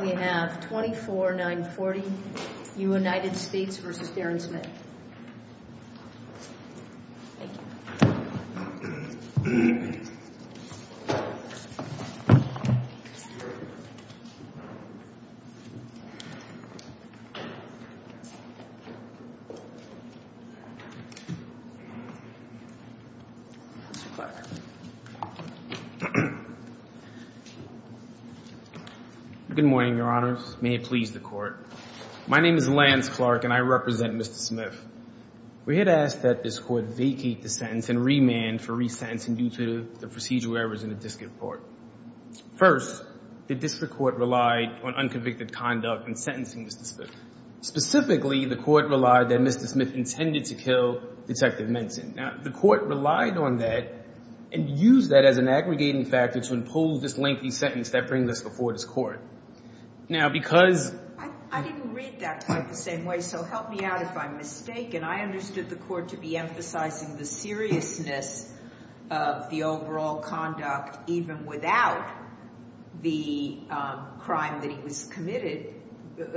We have 24, 940 United States v. Darren Smith. Thank you. Good morning, Your Honors. May it please the Court. My name is Lance Clark and I represent Mr. Smith. We had asked that this Court vacate the sentence and remand for re-sentencing due to the procedural errors in the District Court. First, the District Court relied on unconvicted conduct in sentencing Mr. Smith. Specifically, the Court relied that Mr. Smith intended to kill Detective Minson. Now, the Court relied on that and used that as an aggregating factor to impose this lengthy sentence that brings us before this Court. I didn't read that quite the same way, so help me out if I'm mistaken. I understood the Court to be emphasizing the seriousness of the overall conduct, even without the crime that he was committed,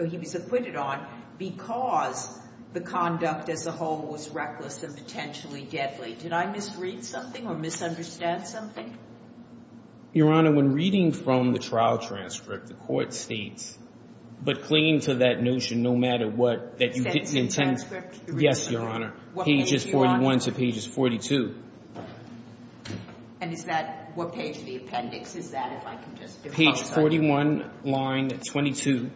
he was acquitted on, because the conduct as a whole was reckless and potentially deadly. Did I misread something or misunderstand something? Your Honor, when reading from the trial transcript, the Court states, but clinging to that notion, no matter what, that you get the intent— Yes, Your Honor. What page, Your Honor? Pages 41 to pages 42. And is that—what page of the appendix is that, if I can just— Page 41, line 22.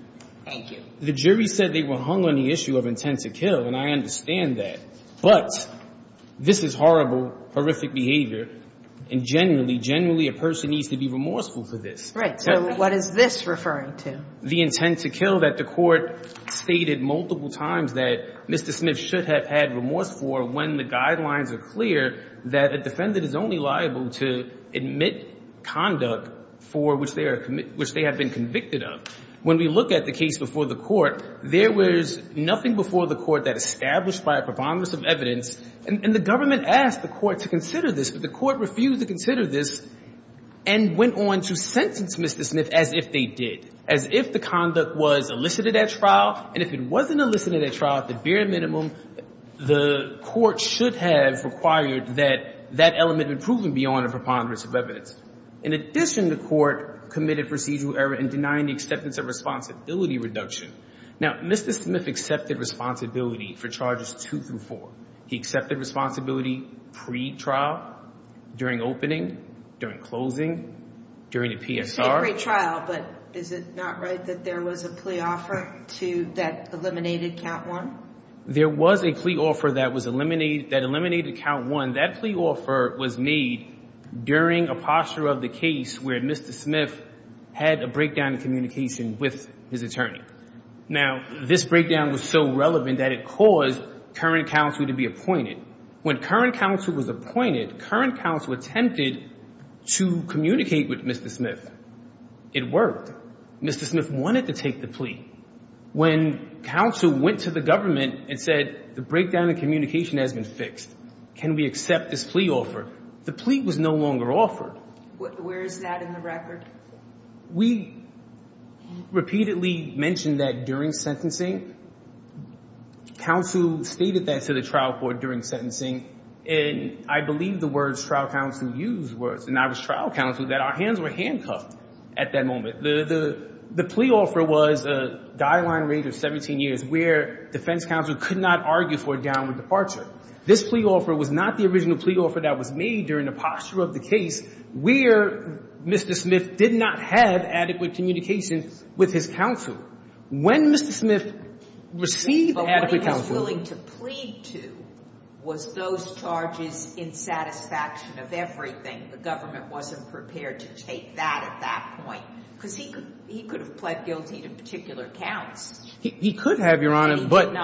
Thank you. The jury said they were hung on the issue of intent to kill, and I understand that. But this is horrible, horrific behavior, and generally, generally a person needs to be remorseful for this. Right. So what is this referring to? The intent to kill that the Court stated multiple times that Mr. Smith should have had remorse for when the guidelines are clear that a defendant is only liable to admit conduct for which they have been convicted of. When we look at the case before the Court, there was nothing before the Court that established by a preponderance of evidence. And the government asked the Court to consider this, but the Court refused to consider this and went on to sentence Mr. Smith as if they did, as if the conduct was elicited at trial. And if it wasn't elicited at trial, at the bare minimum, the Court should have required that that element be proven beyond a preponderance of evidence. In addition, the Court committed procedural error in denying the acceptance of responsibility reduction. Now, Mr. Smith accepted responsibility for Charges 2 through 4. He accepted responsibility pre-trial, during opening, during closing, during the PSR. You say pre-trial, but is it not right that there was a plea offer that eliminated Count 1? There was a plea offer that eliminated Count 1. That plea offer was made during a posture of the case where Mr. Smith had a breakdown in communication with his attorney. Now, this breakdown was so relevant that it caused current counsel to be appointed. When current counsel was appointed, current counsel attempted to communicate with Mr. Smith. It worked. Mr. Smith wanted to take the plea. When counsel went to the government and said, the breakdown in communication has been fixed. Can we accept this plea offer? The plea was no longer offered. Where is that in the record? We repeatedly mentioned that during sentencing. Counsel stated that to the trial court during sentencing. And I believe the words trial counsel used were, and I was trial counsel, that our hands were handcuffed at that moment. The plea offer was a guideline range of 17 years where defense counsel could not argue for a downward departure. This plea offer was not the original plea offer that was made during the posture of the case where Mr. Smith did not have adequate communication with his counsel. When Mr. Smith received adequate counsel. But what he was willing to plead to was those charges in satisfaction of everything. And the government wasn't prepared to take that at that point. Because he could have pled guilty to particular counts. He could have, Your Honor. But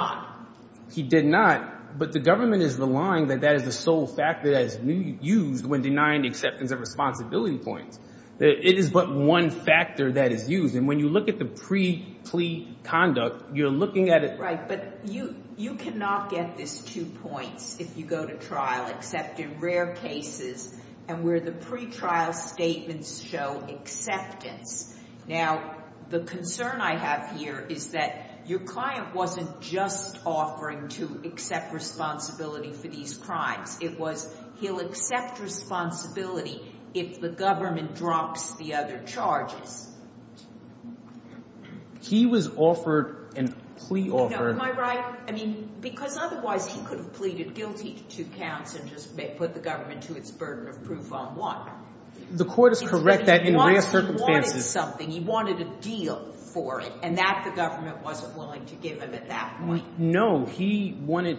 he did not. But the government is relying that that is the sole factor that is used when denying acceptance of responsibility points. It is but one factor that is used. And when you look at the pre-plea conduct, you're looking at it. Right. But you cannot get this two points if you go to trial except in rare cases and where the pretrial statements show acceptance. Now, the concern I have here is that your client wasn't just offering to accept responsibility for these crimes. It was he'll accept responsibility if the government drops the other charges. He was offered a plea offer. Am I right? I mean, because otherwise he could have pleaded guilty to counts and just put the government to its burden of proof on what? The court is correct that in rare circumstances. He wanted something. He wanted a deal for it. And that the government wasn't willing to give him at that point. No. He wanted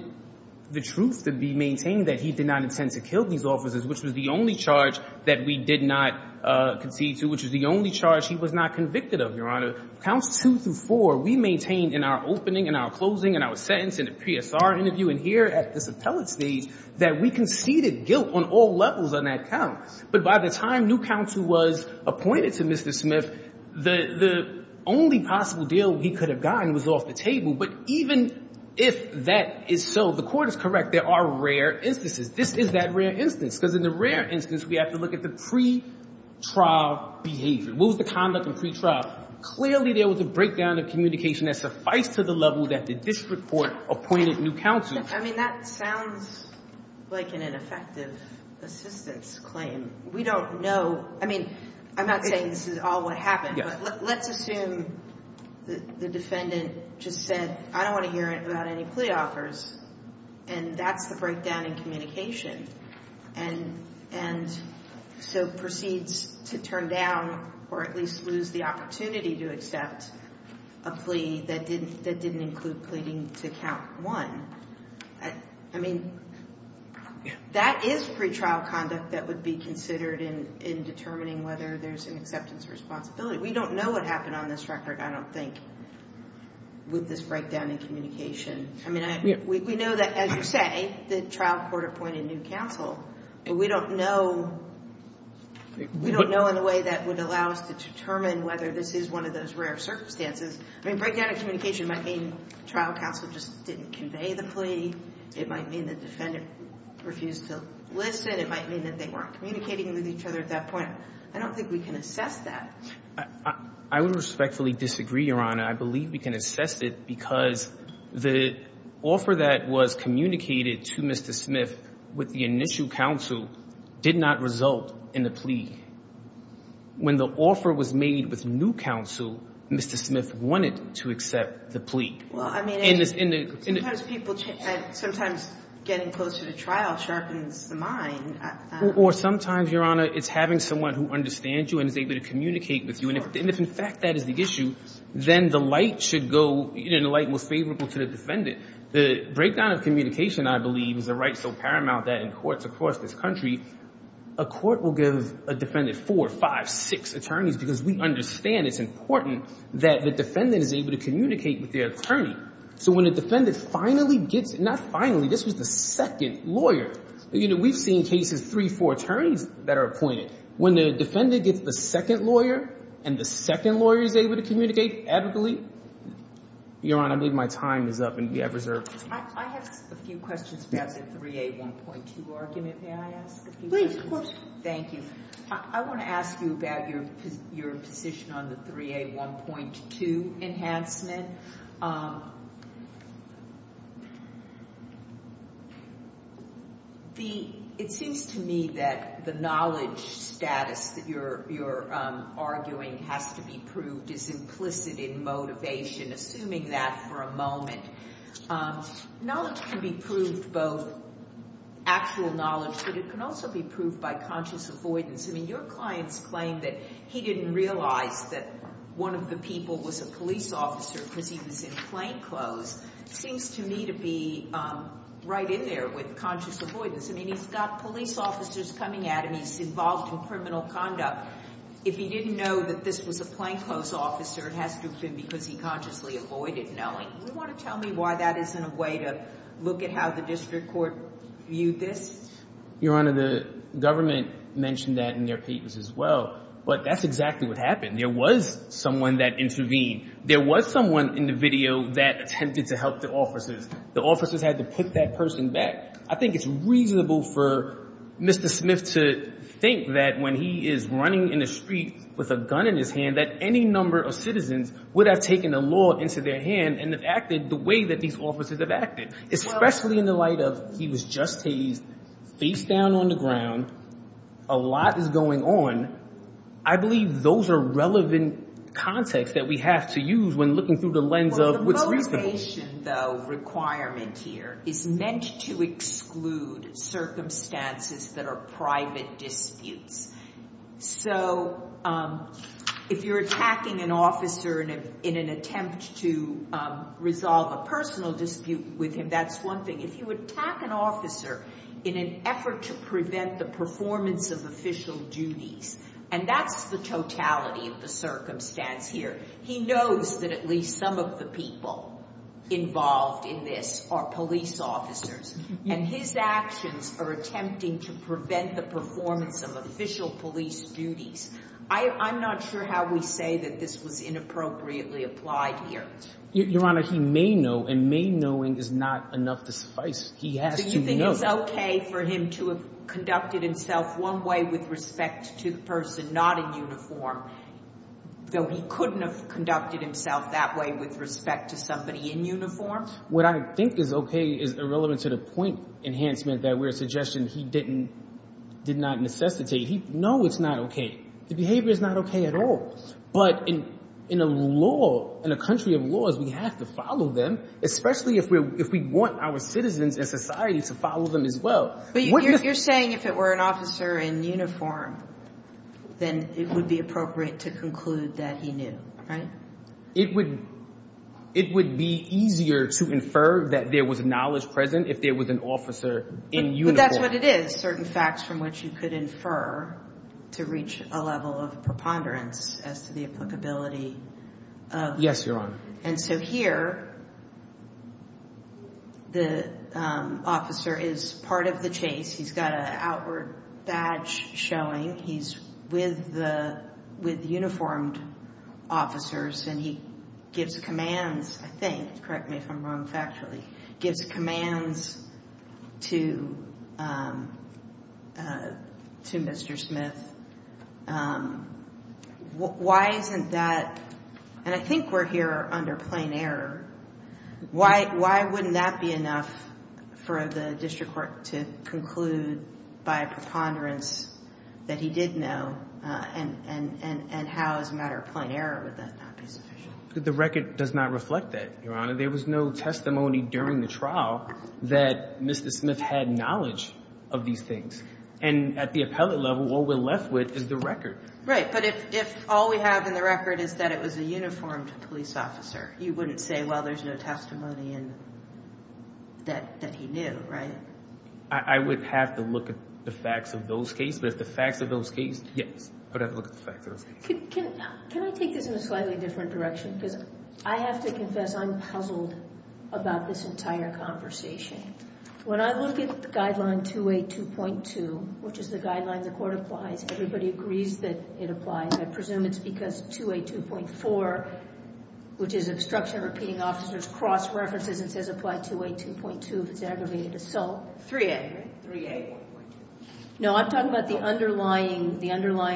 the truth to be maintained that he did not intend to kill these officers, which was the only charge that we did not concede to. Which was the only charge he was not convicted of, Your Honor. Counts two through four, we maintained in our opening, in our closing, in our sentence, in a PSR interview and here at this appellate stage, that we conceded guilt on all levels on that count. But by the time new counsel was appointed to Mr. Smith, the only possible deal he could have gotten was off the table. But even if that is so, the court is correct. There are rare instances. This is that rare instance. Because in the rare instance, we have to look at the pretrial behavior. What was the conduct in pretrial? Clearly, there was a breakdown of communication that sufficed to the level that the district court appointed new counsel. I mean, that sounds like an ineffective assistance claim. We don't know. I mean, I'm not saying this is all what happened. But let's assume the defendant just said, I don't want to hear about any plea offers. And that's the breakdown in communication. And so proceeds to turn down or at least lose the opportunity to accept a plea that didn't include pleading to count one. I mean, that is pretrial conduct that would be considered in determining whether there's an acceptance of responsibility. We don't know what happened on this record, I don't think, with this breakdown in communication. I mean, we know that, as you say, the trial court appointed new counsel. But we don't know in a way that would allow us to determine whether this is one of those rare circumstances. I mean, breakdown in communication might mean trial counsel just didn't convey the plea. It might mean the defendant refused to listen. It might mean that they weren't communicating with each other at that point. I don't think we can assess that. I would respectfully disagree, Your Honor. I believe we can assess it because the offer that was communicated to Mr. Smith with the initial counsel did not result in the plea. When the offer was made with new counsel, Mr. Smith wanted to accept the plea. Well, I mean, sometimes getting closer to trial sharpens the mind. Or sometimes, Your Honor, it's having someone who understands you and is able to communicate with you. And if, in fact, that is the issue, then the light should go, you know, the light most favorable to the defendant. The breakdown of communication, I believe, is a right so paramount that in courts across this country, a court will give a defendant four, five, six attorneys because we understand it's important that the defendant is able to communicate with their attorney. So when a defendant finally gets, not finally, this was the second lawyer. You know, we've seen cases, three, four attorneys that are appointed. When the defendant gets the second lawyer and the second lawyer is able to communicate adequately, Your Honor, I believe my time is up and we have reserved. I have a few questions about the 3A1.2 argument. May I ask a few questions? Please, of course. Thank you. I want to ask you about your position on the 3A1.2 enhancement. It seems to me that the knowledge status that you're arguing has to be proved is implicit in motivation, assuming that for a moment. Knowledge can be proved, both actual knowledge, but it can also be proved by conscious avoidance. I mean, your client's claim that he didn't realize that one of the people was a police officer because he was in plainclothes seems to me to be right in there with conscious avoidance. I mean, he's got police officers coming at him. He's involved in criminal conduct. If he didn't know that this was a plainclothes officer, it has to have been because he consciously avoided knowing. Do you want to tell me why that isn't a way to look at how the district court viewed this? Your Honor, the government mentioned that in their papers as well, but that's exactly what happened. There was someone that intervened. There was someone in the video that attempted to help the officers. The officers had to put that person back. I think it's reasonable for Mr. Smith to think that when he is running in the street with a gun in his hand, that any number of citizens would have taken the law into their hand and have acted the way that these officers have acted, especially in the light of he was just hazed, face down on the ground, a lot is going on. I believe those are relevant contexts that we have to use when looking through the lens of what's reasonable. The motivation, though, requirement here is meant to exclude circumstances that are private disputes. So if you're attacking an officer in an attempt to resolve a personal dispute with him, that's one thing. If you attack an officer in an effort to prevent the performance of official duties, and that's the totality of the circumstance here. He knows that at least some of the people involved in this are police officers, and his actions are attempting to prevent the performance of official police duties. I'm not sure how we say that this was inappropriately applied here. Your Honor, he may know, and may knowing is not enough to suffice. Do you think it's okay for him to have conducted himself one way with respect to the person not in uniform, though he couldn't have conducted himself that way with respect to somebody in uniform? What I think is okay is irrelevant to the point enhancement that we're suggesting he did not necessitate. No, it's not okay. The behavior is not okay at all. But in a law, in a country of laws, we have to follow them, especially if we want our citizens and society to follow them as well. But you're saying if it were an officer in uniform, then it would be appropriate to conclude that he knew, right? It would be easier to infer that there was knowledge present if there was an officer in uniform. That's what it is, certain facts from which you could infer to reach a level of preponderance as to the applicability. Yes, Your Honor. And so here, the officer is part of the chase. He's got an outward badge showing. He's with the uniformed officers, and he gives commands, I think. Correct me if I'm wrong factually. Gives commands to Mr. Smith. Why isn't that? And I think we're here under plain error. Why wouldn't that be enough for the district court to conclude by a preponderance that he did know? And how, as a matter of plain error, would that not be sufficient? The record does not reflect that, Your Honor. There was no testimony during the trial that Mr. Smith had knowledge of these things. And at the appellate level, what we're left with is the record. Right, but if all we have in the record is that it was a uniformed police officer, you wouldn't say, well, there's no testimony that he knew, right? I would have to look at the facts of those cases. But if the facts of those cases, yes, I would have to look at the facts of those cases. Can I take this in a slightly different direction? Because I have to confess I'm puzzled about this entire conversation. When I look at the guideline 2A.2.2, which is the guideline the court applies, everybody agrees that it applies. I presume it's because 2A.2.4, which is obstruction of repeating officers, cross-references and says apply 2A.2.2 if it's an aggravated assault. 3A, right? 3A.1.2. No, I'm talking about the underlying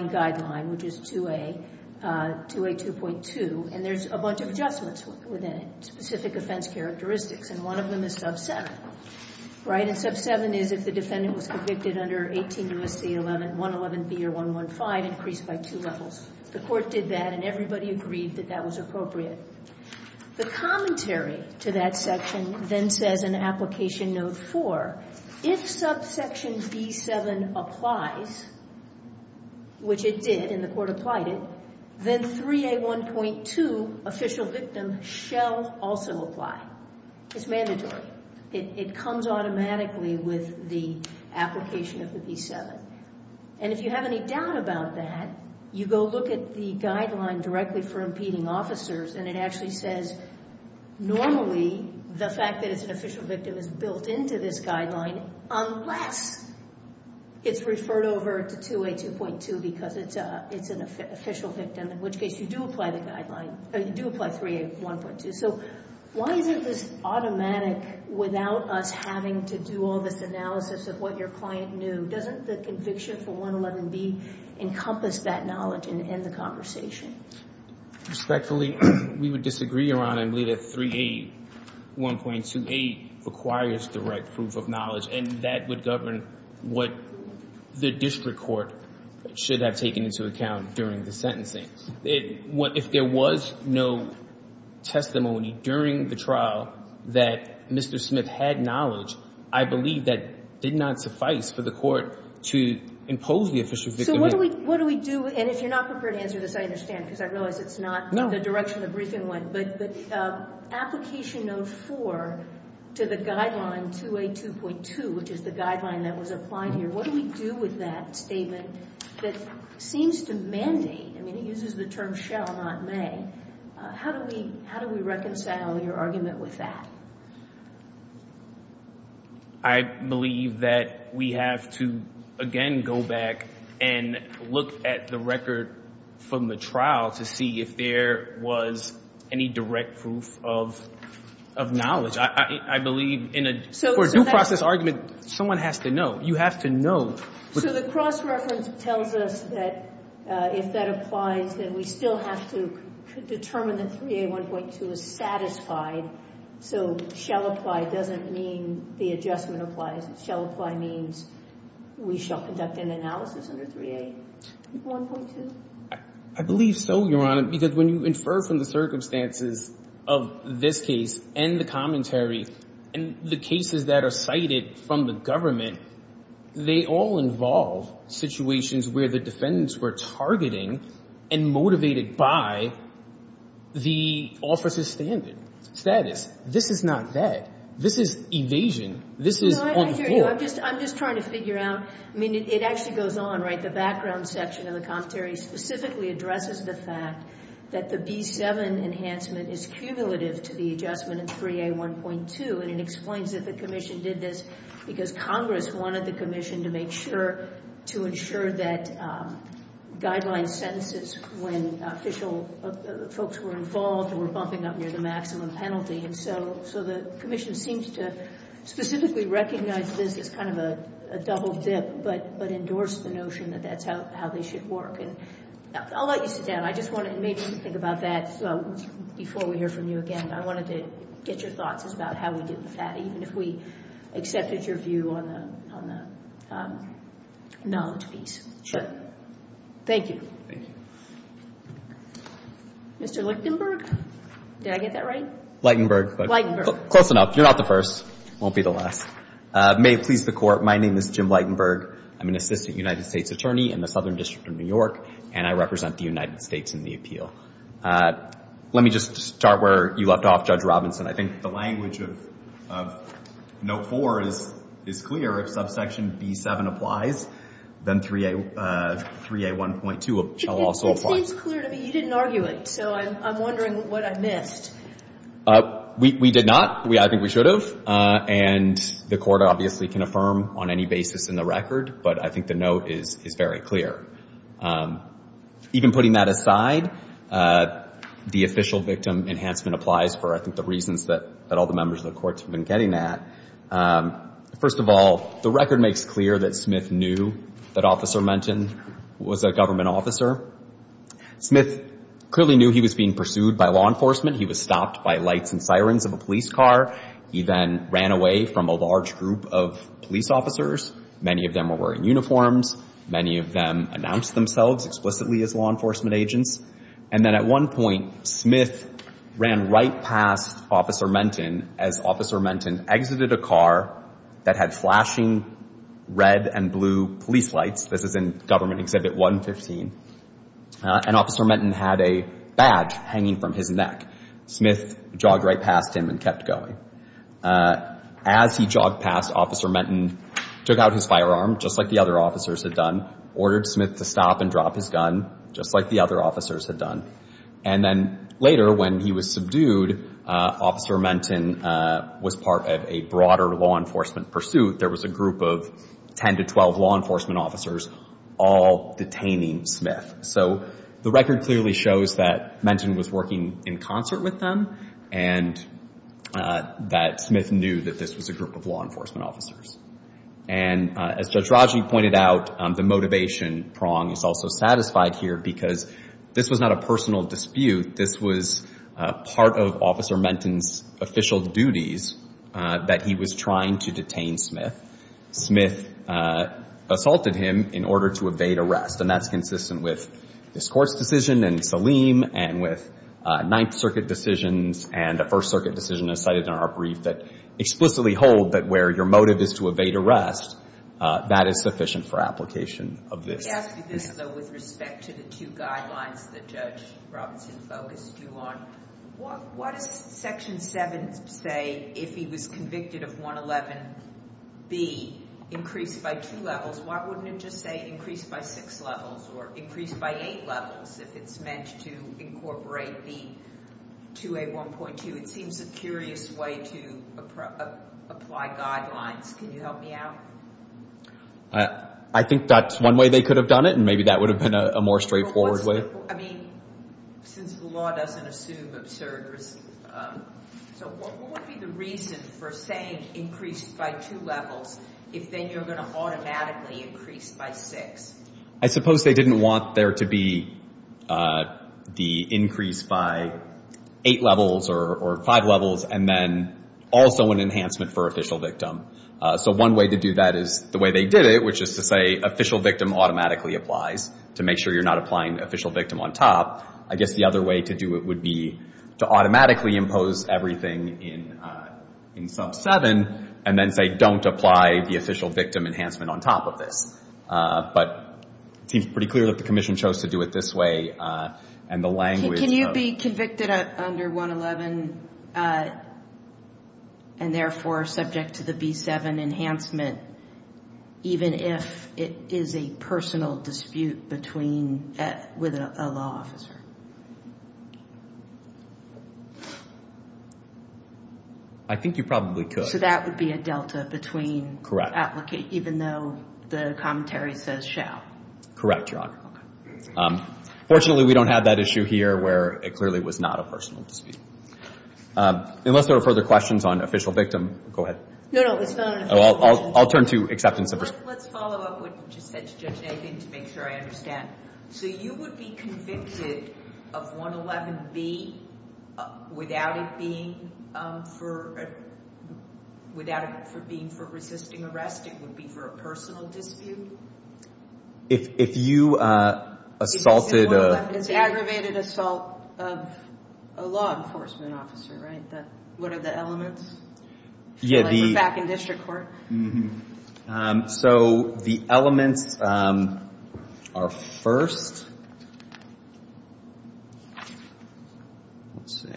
guideline, which is 2A, 2A.2.2. And there's a bunch of adjustments within it, specific offense characteristics. And one of them is sub-7, right? And sub-7 is if the defendant was convicted under 18 U.S.C. 111B or 115, increased by two levels. The court did that, and everybody agreed that that was appropriate. The commentary to that section then says in application note 4, if subsection B.7 applies, which it did and the court applied it, then 3A.1.2, official victim, shall also apply. It's mandatory. It comes automatically with the application of the B.7. And if you have any doubt about that, you go look at the guideline directly for impeding officers, and it actually says normally the fact that it's an official victim is built into this guideline unless it's referred over to 2A.2.2 because it's an official victim, in which case you do apply the guideline, or you do apply 3A.1.2. So why is it this automatic without us having to do all this analysis of what your client knew? Doesn't the conviction for 111B encompass that knowledge and end the conversation? Respectfully, we would disagree, Your Honor. I believe that 3A.1.2.8 requires direct proof of knowledge, and that would govern what the district court should have taken into account during the sentencing. If there was no testimony during the trial that Mr. Smith had knowledge, I believe that did not suffice for the court to impose the official victim. So what do we do? And if you're not prepared to answer this, I understand because I realize it's not the direction the briefing went. But application note 4 to the guideline 2A.2.2, which is the guideline that was applied here, what do we do with that statement that seems to mandate? I mean, it uses the term shall, not may. How do we reconcile your argument with that? I believe that we have to, again, go back and look at the record from the trial to see if there was any direct proof of knowledge. I believe in a due process argument, someone has to know. You have to know. So the cross-reference tells us that if that applies, then we still have to determine that 3A.1.2 is satisfied. So shall apply doesn't mean the adjustment applies. Shall apply means we shall conduct an analysis under 3A.1.2. I believe so, Your Honor, because when you infer from the circumstances of this case and the commentary and the cases that are cited from the government, they all involve situations where the defendants were targeting and motivated by the officer's standard status. This is not that. This is evasion. This is on the floor. I'm just trying to figure out. I mean, it actually goes on, right? The background section of the commentary specifically addresses the fact that the B7 enhancement is cumulative to the adjustment in 3A.1.2, and it explains that the commission did this because Congress wanted the commission to make sure to ensure that guideline sentences when official folks were involved were bumping up near the maximum penalty. And so the commission seems to specifically recognize this as kind of a double dip but endorse the notion that that's how they should work. And I'll let you sit down. I just want to maybe think about that before we hear from you again. I wanted to get your thoughts about how we did with that, even if we accepted your view on the knowledge piece. Thank you. Thank you. Mr. Lichtenberg? Did I get that right? Lichtenberg. Lichtenberg. Close enough. You're not the first. Won't be the last. May it please the Court, my name is Jim Lichtenberg. I'm an assistant United States attorney in the Southern District of New York, and I represent the United States in the appeal. Let me just start where you left off, Judge Robinson. I think the language of Note 4 is clear. If subsection B7 applies, then 3A1.2 shall also apply. It seems clear to me. You didn't argue it, so I'm wondering what I missed. We did not. I think we should have. And the Court obviously can affirm on any basis in the record, but I think the note is very clear. Even putting that aside, the official victim enhancement applies for, I think, the reasons that all the members of the Court have been getting at. First of all, the record makes clear that Smith knew that Officer Menton was a government officer. Smith clearly knew he was being pursued by law enforcement. He was stopped by lights and sirens of a police car. He then ran away from a large group of police officers. Many of them were wearing uniforms. Many of them announced themselves explicitly as law enforcement agents. And then at one point, Smith ran right past Officer Menton as Officer Menton exited a car that had flashing red and blue police lights. This is in Government Exhibit 115. And Officer Menton had a badge hanging from his neck. Smith jogged right past him and kept going. As he jogged past, Officer Menton took out his firearm, just like the other officers had done, ordered Smith to stop and drop his gun, just like the other officers had done. And then later, when he was subdued, Officer Menton was part of a broader law enforcement pursuit. There was a group of 10 to 12 law enforcement officers all detaining Smith. So the record clearly shows that Menton was working in concert with them. And that Smith knew that this was a group of law enforcement officers. And as Judge Raji pointed out, the motivation prong is also satisfied here because this was not a personal dispute. This was part of Officer Menton's official duties that he was trying to detain Smith. Smith assaulted him in order to evade arrest. And that's consistent with this Court's decision and Saleem and with Ninth Circuit decisions and a First Circuit decision as cited in our brief that explicitly hold that where your motive is to evade arrest, that is sufficient for application of this. Let me ask you this, though, with respect to the two guidelines that Judge Robinson focused you on. Why does Section 7 say if he was convicted of 111B, increase by two levels? Why wouldn't it just say increase by six levels or increase by eight levels if it's meant to incorporate the 2A1.2? It seems a curious way to apply guidelines. Can you help me out? I think that's one way they could have done it, and maybe that would have been a more straightforward way. I mean, since the law doesn't assume absurd risk, so what would be the reason for saying increase by two levels if then you're going to automatically increase by six? I suppose they didn't want there to be the increase by eight levels or five levels and then also an enhancement for official victim. So one way to do that is the way they did it, which is to say official victim automatically applies to make sure you're not applying official victim on top. I guess the other way to do it would be to automatically impose everything in sub 7 and then say don't apply the official victim enhancement on top of this. But it seems pretty clear that the Commission chose to do it this way, and the language of — Can you be convicted under 111 and therefore subject to the B7 enhancement, even if it is a personal dispute between — with a law officer? I think you probably could. So that would be a delta between — Correct. Even though the commentary says shall. Correct, Your Honor. Fortunately, we don't have that issue here where it clearly was not a personal dispute. Unless there are further questions on official victim — go ahead. No, no, it's not an official — I'll turn to acceptance of — Let's follow up what you just said to Judge Nathan to make sure I understand. So you would be convicted of 111B without it being for — without it being for resisting arrest? It would be for a personal dispute? If you assaulted — It's aggravated assault of a law enforcement officer, right? What are the elements? Yeah, the — Like we're back in district court? Mm-hmm. So the elements are, first — let's see.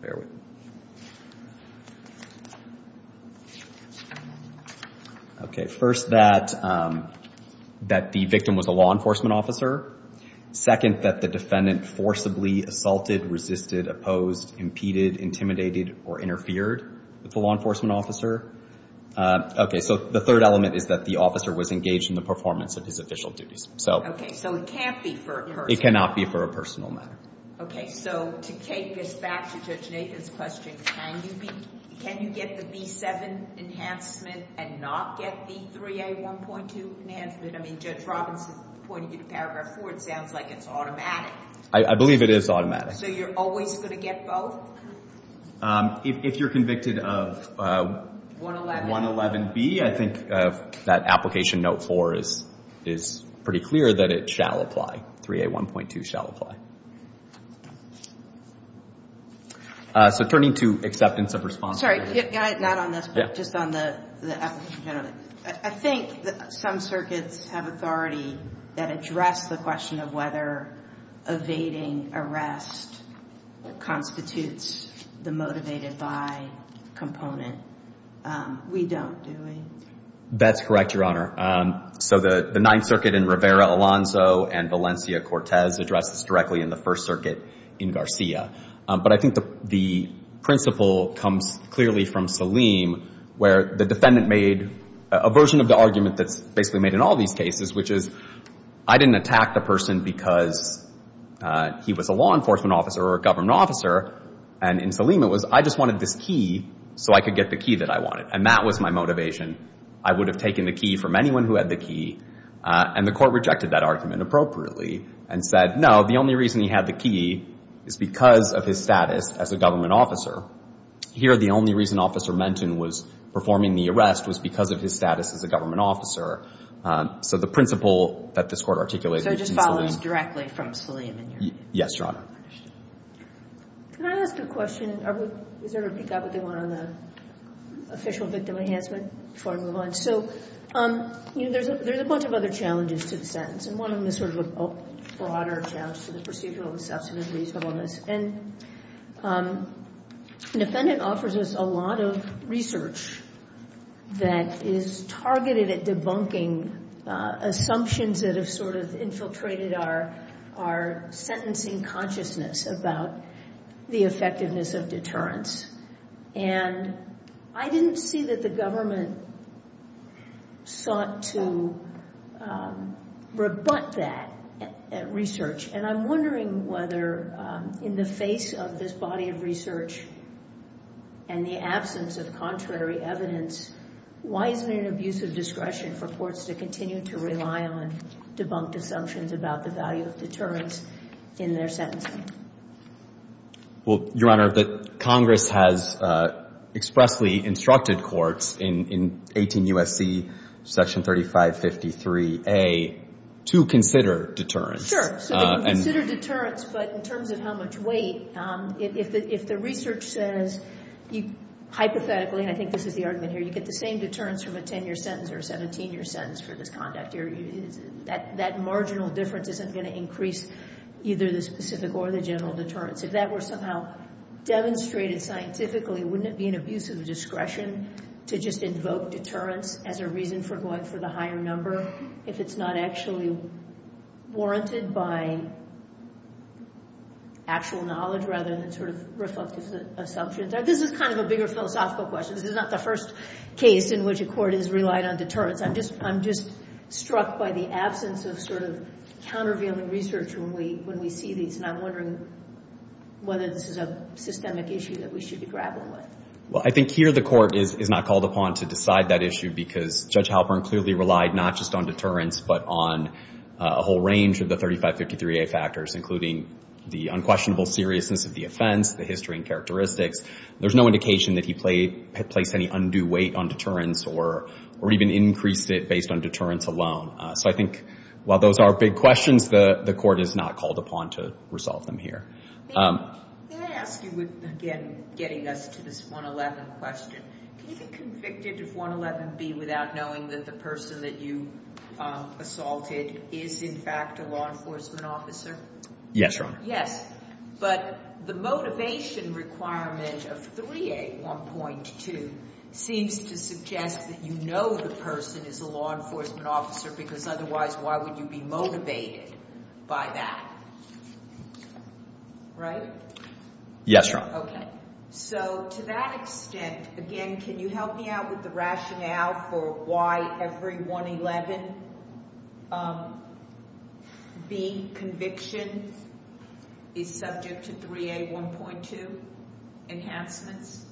Bear with me. Okay. First, that — that the victim was a law enforcement officer. Second, that the defendant forcibly assaulted, resisted, opposed, impeded, intimidated, or interfered with the law enforcement officer. Okay. So the third element is that the officer was engaged in the performance of his official duties. So — So it can't be for a personal — It cannot be for a personal matter. Okay. So to take this back to Judge Nathan's question, can you be — can you get the V7 enhancement and not get V3A 1.2 enhancement? I mean, Judge Robinson pointed you to Paragraph 4. It sounds like it's automatic. I believe it is automatic. So you're always going to get both? If you're convicted of — 111B. 111B, I think that Application Note 4 is pretty clear that it shall apply. 3A 1.2 shall apply. So turning to acceptance of responsibility — Sorry. Not on this one. Yeah. Just on the application. I think some circuits have authority that address the question of whether evading arrest constitutes the motivated by component. We don't, do we? That's correct, Your Honor. So the Ninth Circuit in Rivera, Alonzo, and Valencia-Cortez addresses directly in the First Circuit in Garcia. But I think the principle comes clearly from Salim, where the defendant made a version of the argument that's basically made in all these cases, which is, I didn't attack the person because he was a law enforcement officer or a government officer. And in Salim, it was, I just wanted this key so I could get the key that I wanted. And that was my motivation. I would have taken the key from anyone who had the key. And the court rejected that argument appropriately and said, no, the only reason he had the key is because of his status as a government officer. Here, the only reason Officer Menton was performing the arrest was because of his status as a government officer. So the principle that this Court articulated in Salim is... So it just follows directly from Salim in your opinion? Yes, Your Honor. Can I ask a question? Is there a peek at what they want on the official victim enhancement before I move on? So, you know, there's a bunch of other challenges to the sentence. And one of them is sort of a broader challenge to the procedural and substantive reasonableness. And the defendant offers us a lot of research that is targeted at debunking assumptions that have sort of infiltrated our sentencing consciousness about the effectiveness of deterrence. And I didn't see that the government sought to rebut that research. And I'm wondering whether in the face of this body of research and the absence of contrary evidence, why isn't it an abuse of discretion for courts to continue to rely on debunked assumptions about the value of deterrence in their sentencing? Well, Your Honor, Congress has expressly instructed courts in 18 U.S.C. section 3553A to consider deterrence. Sure. So they can consider deterrence. But in terms of how much weight, if the research says hypothetically, and I think this is the argument here, you get the same deterrence from a 10-year sentence or a 17-year sentence for this conduct, that marginal difference isn't going to increase either the specific or the general deterrence. If that were somehow demonstrated scientifically, wouldn't it be an abuse of discretion to just invoke deterrence as a reason for going for the higher number if it's not actually warranted by actual knowledge rather than sort of reflective assumptions? This is kind of a bigger philosophical question. This is not the first case in which a court has relied on deterrence. I'm just struck by the absence of sort of countervailing research when we see these. And I'm wondering whether this is a systemic issue that we should be grappling with. Well, I think here the court is not called upon to decide that issue because Judge Halpern clearly relied not just on deterrence but on a whole range of the 3553A factors, including the unquestionable seriousness of the offense, the history and characteristics. There's no indication that he placed any undue weight on deterrence or even increased it based on deterrence alone. So I think while those are big questions, the court is not called upon to resolve them here. May I ask you again, getting us to this 111 question, can you be convicted of 111B without knowing that the person that you assaulted is in fact a law enforcement officer? Yes, Your Honor. Yes. But the motivation requirement of 381.2 seems to suggest that you know the person is a law enforcement officer because otherwise why would you be motivated by that? Right? Yes, Your Honor. Okay. So to that extent, again, can you help me out with the rationale for why every 111B conviction is subject to 381.2 enhancements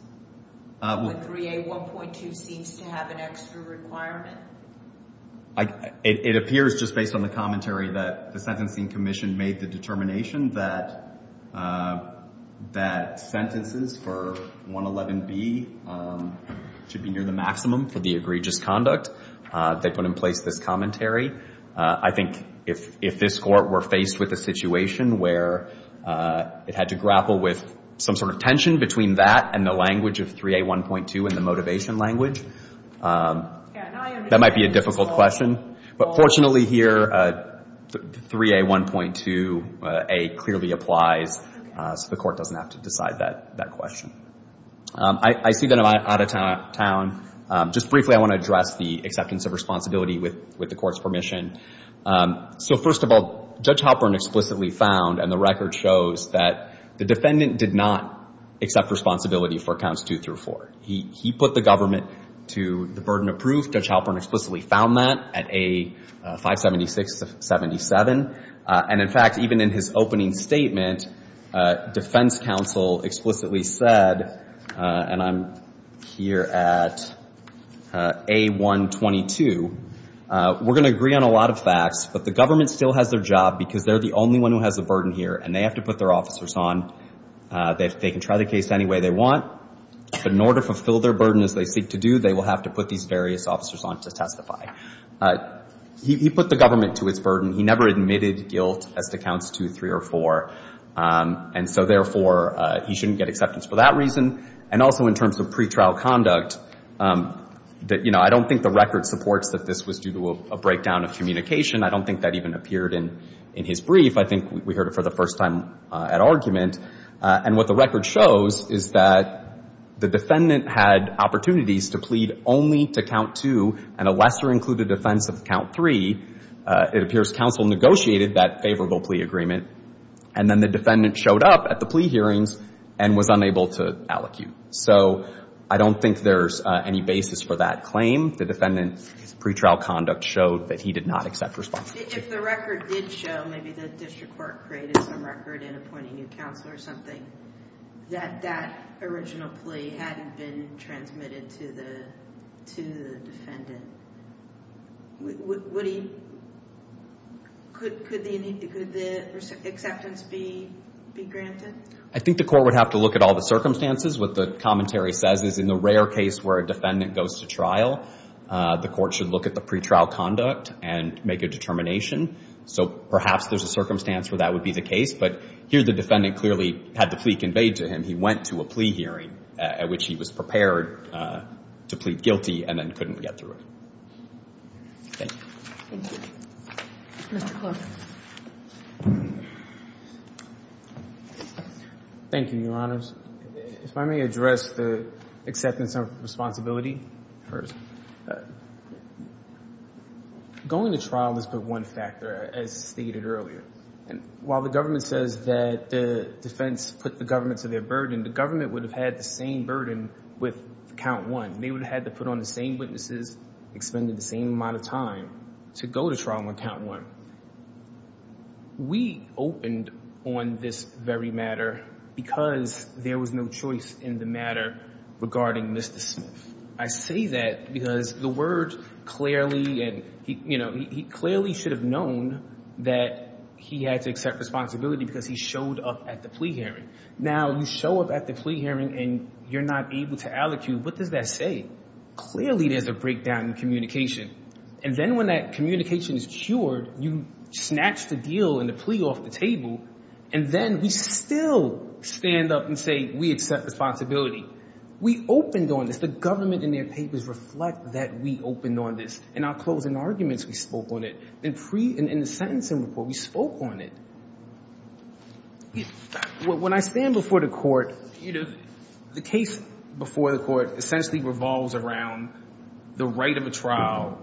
when 381.2 seems to have an extra requirement? It appears, just based on the commentary, that the Sentencing Commission made the determination that sentences for 111B should be near the maximum for the egregious conduct. They put in place this commentary. I think if this Court were faced with a situation where it had to grapple with some sort of tension between that and the language of 381.2 and the motivation language, that might be a difficult question. But fortunately here, 381.2a clearly applies, so the Court doesn't have to decide that question. I see that I'm out of town. Just briefly, I want to address the acceptance of responsibility with the Court's permission. So first of all, Judge Halpern explicitly found, and the record shows, that the defendant did not accept responsibility for counts two through four. He put the government to the burden of proof. Judge Halpern explicitly found that at A576-77. And in fact, even in his opening statement, defense counsel explicitly said, and I'm here at A122, we're going to agree on a lot of facts, but the government still has their job because they're the only one who has a burden here, and they have to put their officers on. They can try the case any way they want, but in order to fulfill their burden as they seek to do, they will have to put these various officers on to testify. He put the government to its burden. He never admitted guilt as to counts two, three, or four. And so therefore, he shouldn't get acceptance for that reason. And also in terms of pretrial conduct, I don't think the record supports that this was due to a breakdown of communication. I don't think that even appeared in his brief. I think we heard it for the first time at argument. And what the record shows is that the defendant had opportunities to plead only to count two and a lesser-included defense of count three. It appears counsel negotiated that favorable plea agreement, and then the defendant showed up at the plea hearings and was unable to allocute. So I don't think there's any basis for that claim. The defendant's pretrial conduct showed that he did not accept responsibility. If the record did show, maybe the district court created some record in appointing a counselor or something, that that original plea hadn't been transmitted to the defendant. Could the acceptance be granted? I think the court would have to look at all the circumstances. What the commentary says is in the rare case where a defendant goes to trial, the court should look at the pretrial conduct and make a determination. So perhaps there's a circumstance where that would be the case. But here the defendant clearly had the plea conveyed to him. He went to a plea hearing at which he was prepared to plead guilty and then couldn't get through it. Thank you. Thank you. Mr. Clough. Thank you, Your Honors. If I may address the acceptance of responsibility first. Going to trial is but one factor, as stated earlier. While the government says that the defense put the government to their burden, the government would have had the same burden with count one. They would have had to put on the same witnesses, expending the same amount of time to go to trial on count one. We opened on this very matter because there was no choice in the matter regarding Mr. Smith. I say that because the word clearly, he clearly should have known that he had to accept responsibility because he showed up at the plea hearing. Now you show up at the plea hearing and you're not able to allocute. What does that say? Clearly there's a breakdown in communication. And then when that communication is cured, you snatch the deal and the plea off the table, and then we still stand up and say we accept responsibility. We opened on this. The government and their papers reflect that we opened on this. In our closing arguments, we spoke on it. In the sentencing report, we spoke on it. When I stand before the court, the case before the court essentially revolves around the right of a trial.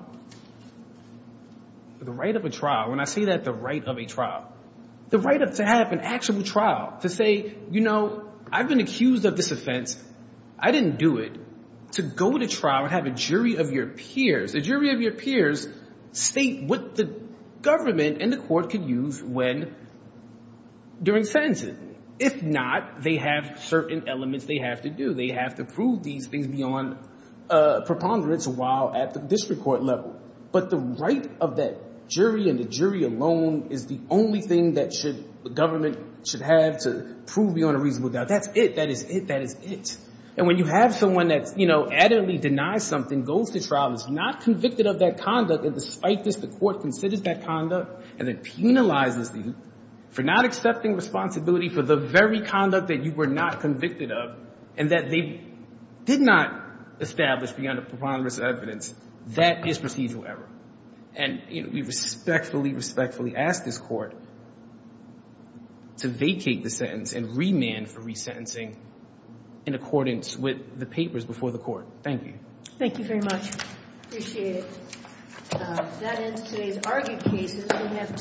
The right of a trial. When I say that, the right of a trial. The right to have an actual trial, to say, you know, I've been accused of this offense. I didn't do it. To go to trial and have a jury of your peers, a jury of your peers state what the government and the court can use when during sentencing. If not, they have certain elements they have to do. They have to prove these things beyond preponderance while at the district court level. But the right of that jury and the jury alone is the only thing that the government should have to prove beyond a reasonable doubt. That's it. That is it. And when you have someone that, you know, adamantly denies something, goes to trial, is not convicted of that conduct, and despite this, the court considers that conduct and then penalizes them for not accepting responsibility for the very conduct that you were not convicted of and that they did not establish beyond a preponderance of evidence, that is procedural error. And we respectfully, respectfully ask this court to vacate the sentence and remand for resentencing in accordance with the papers before the court. Thank you. Thank you very much. Appreciate it. That ends today's argued cases.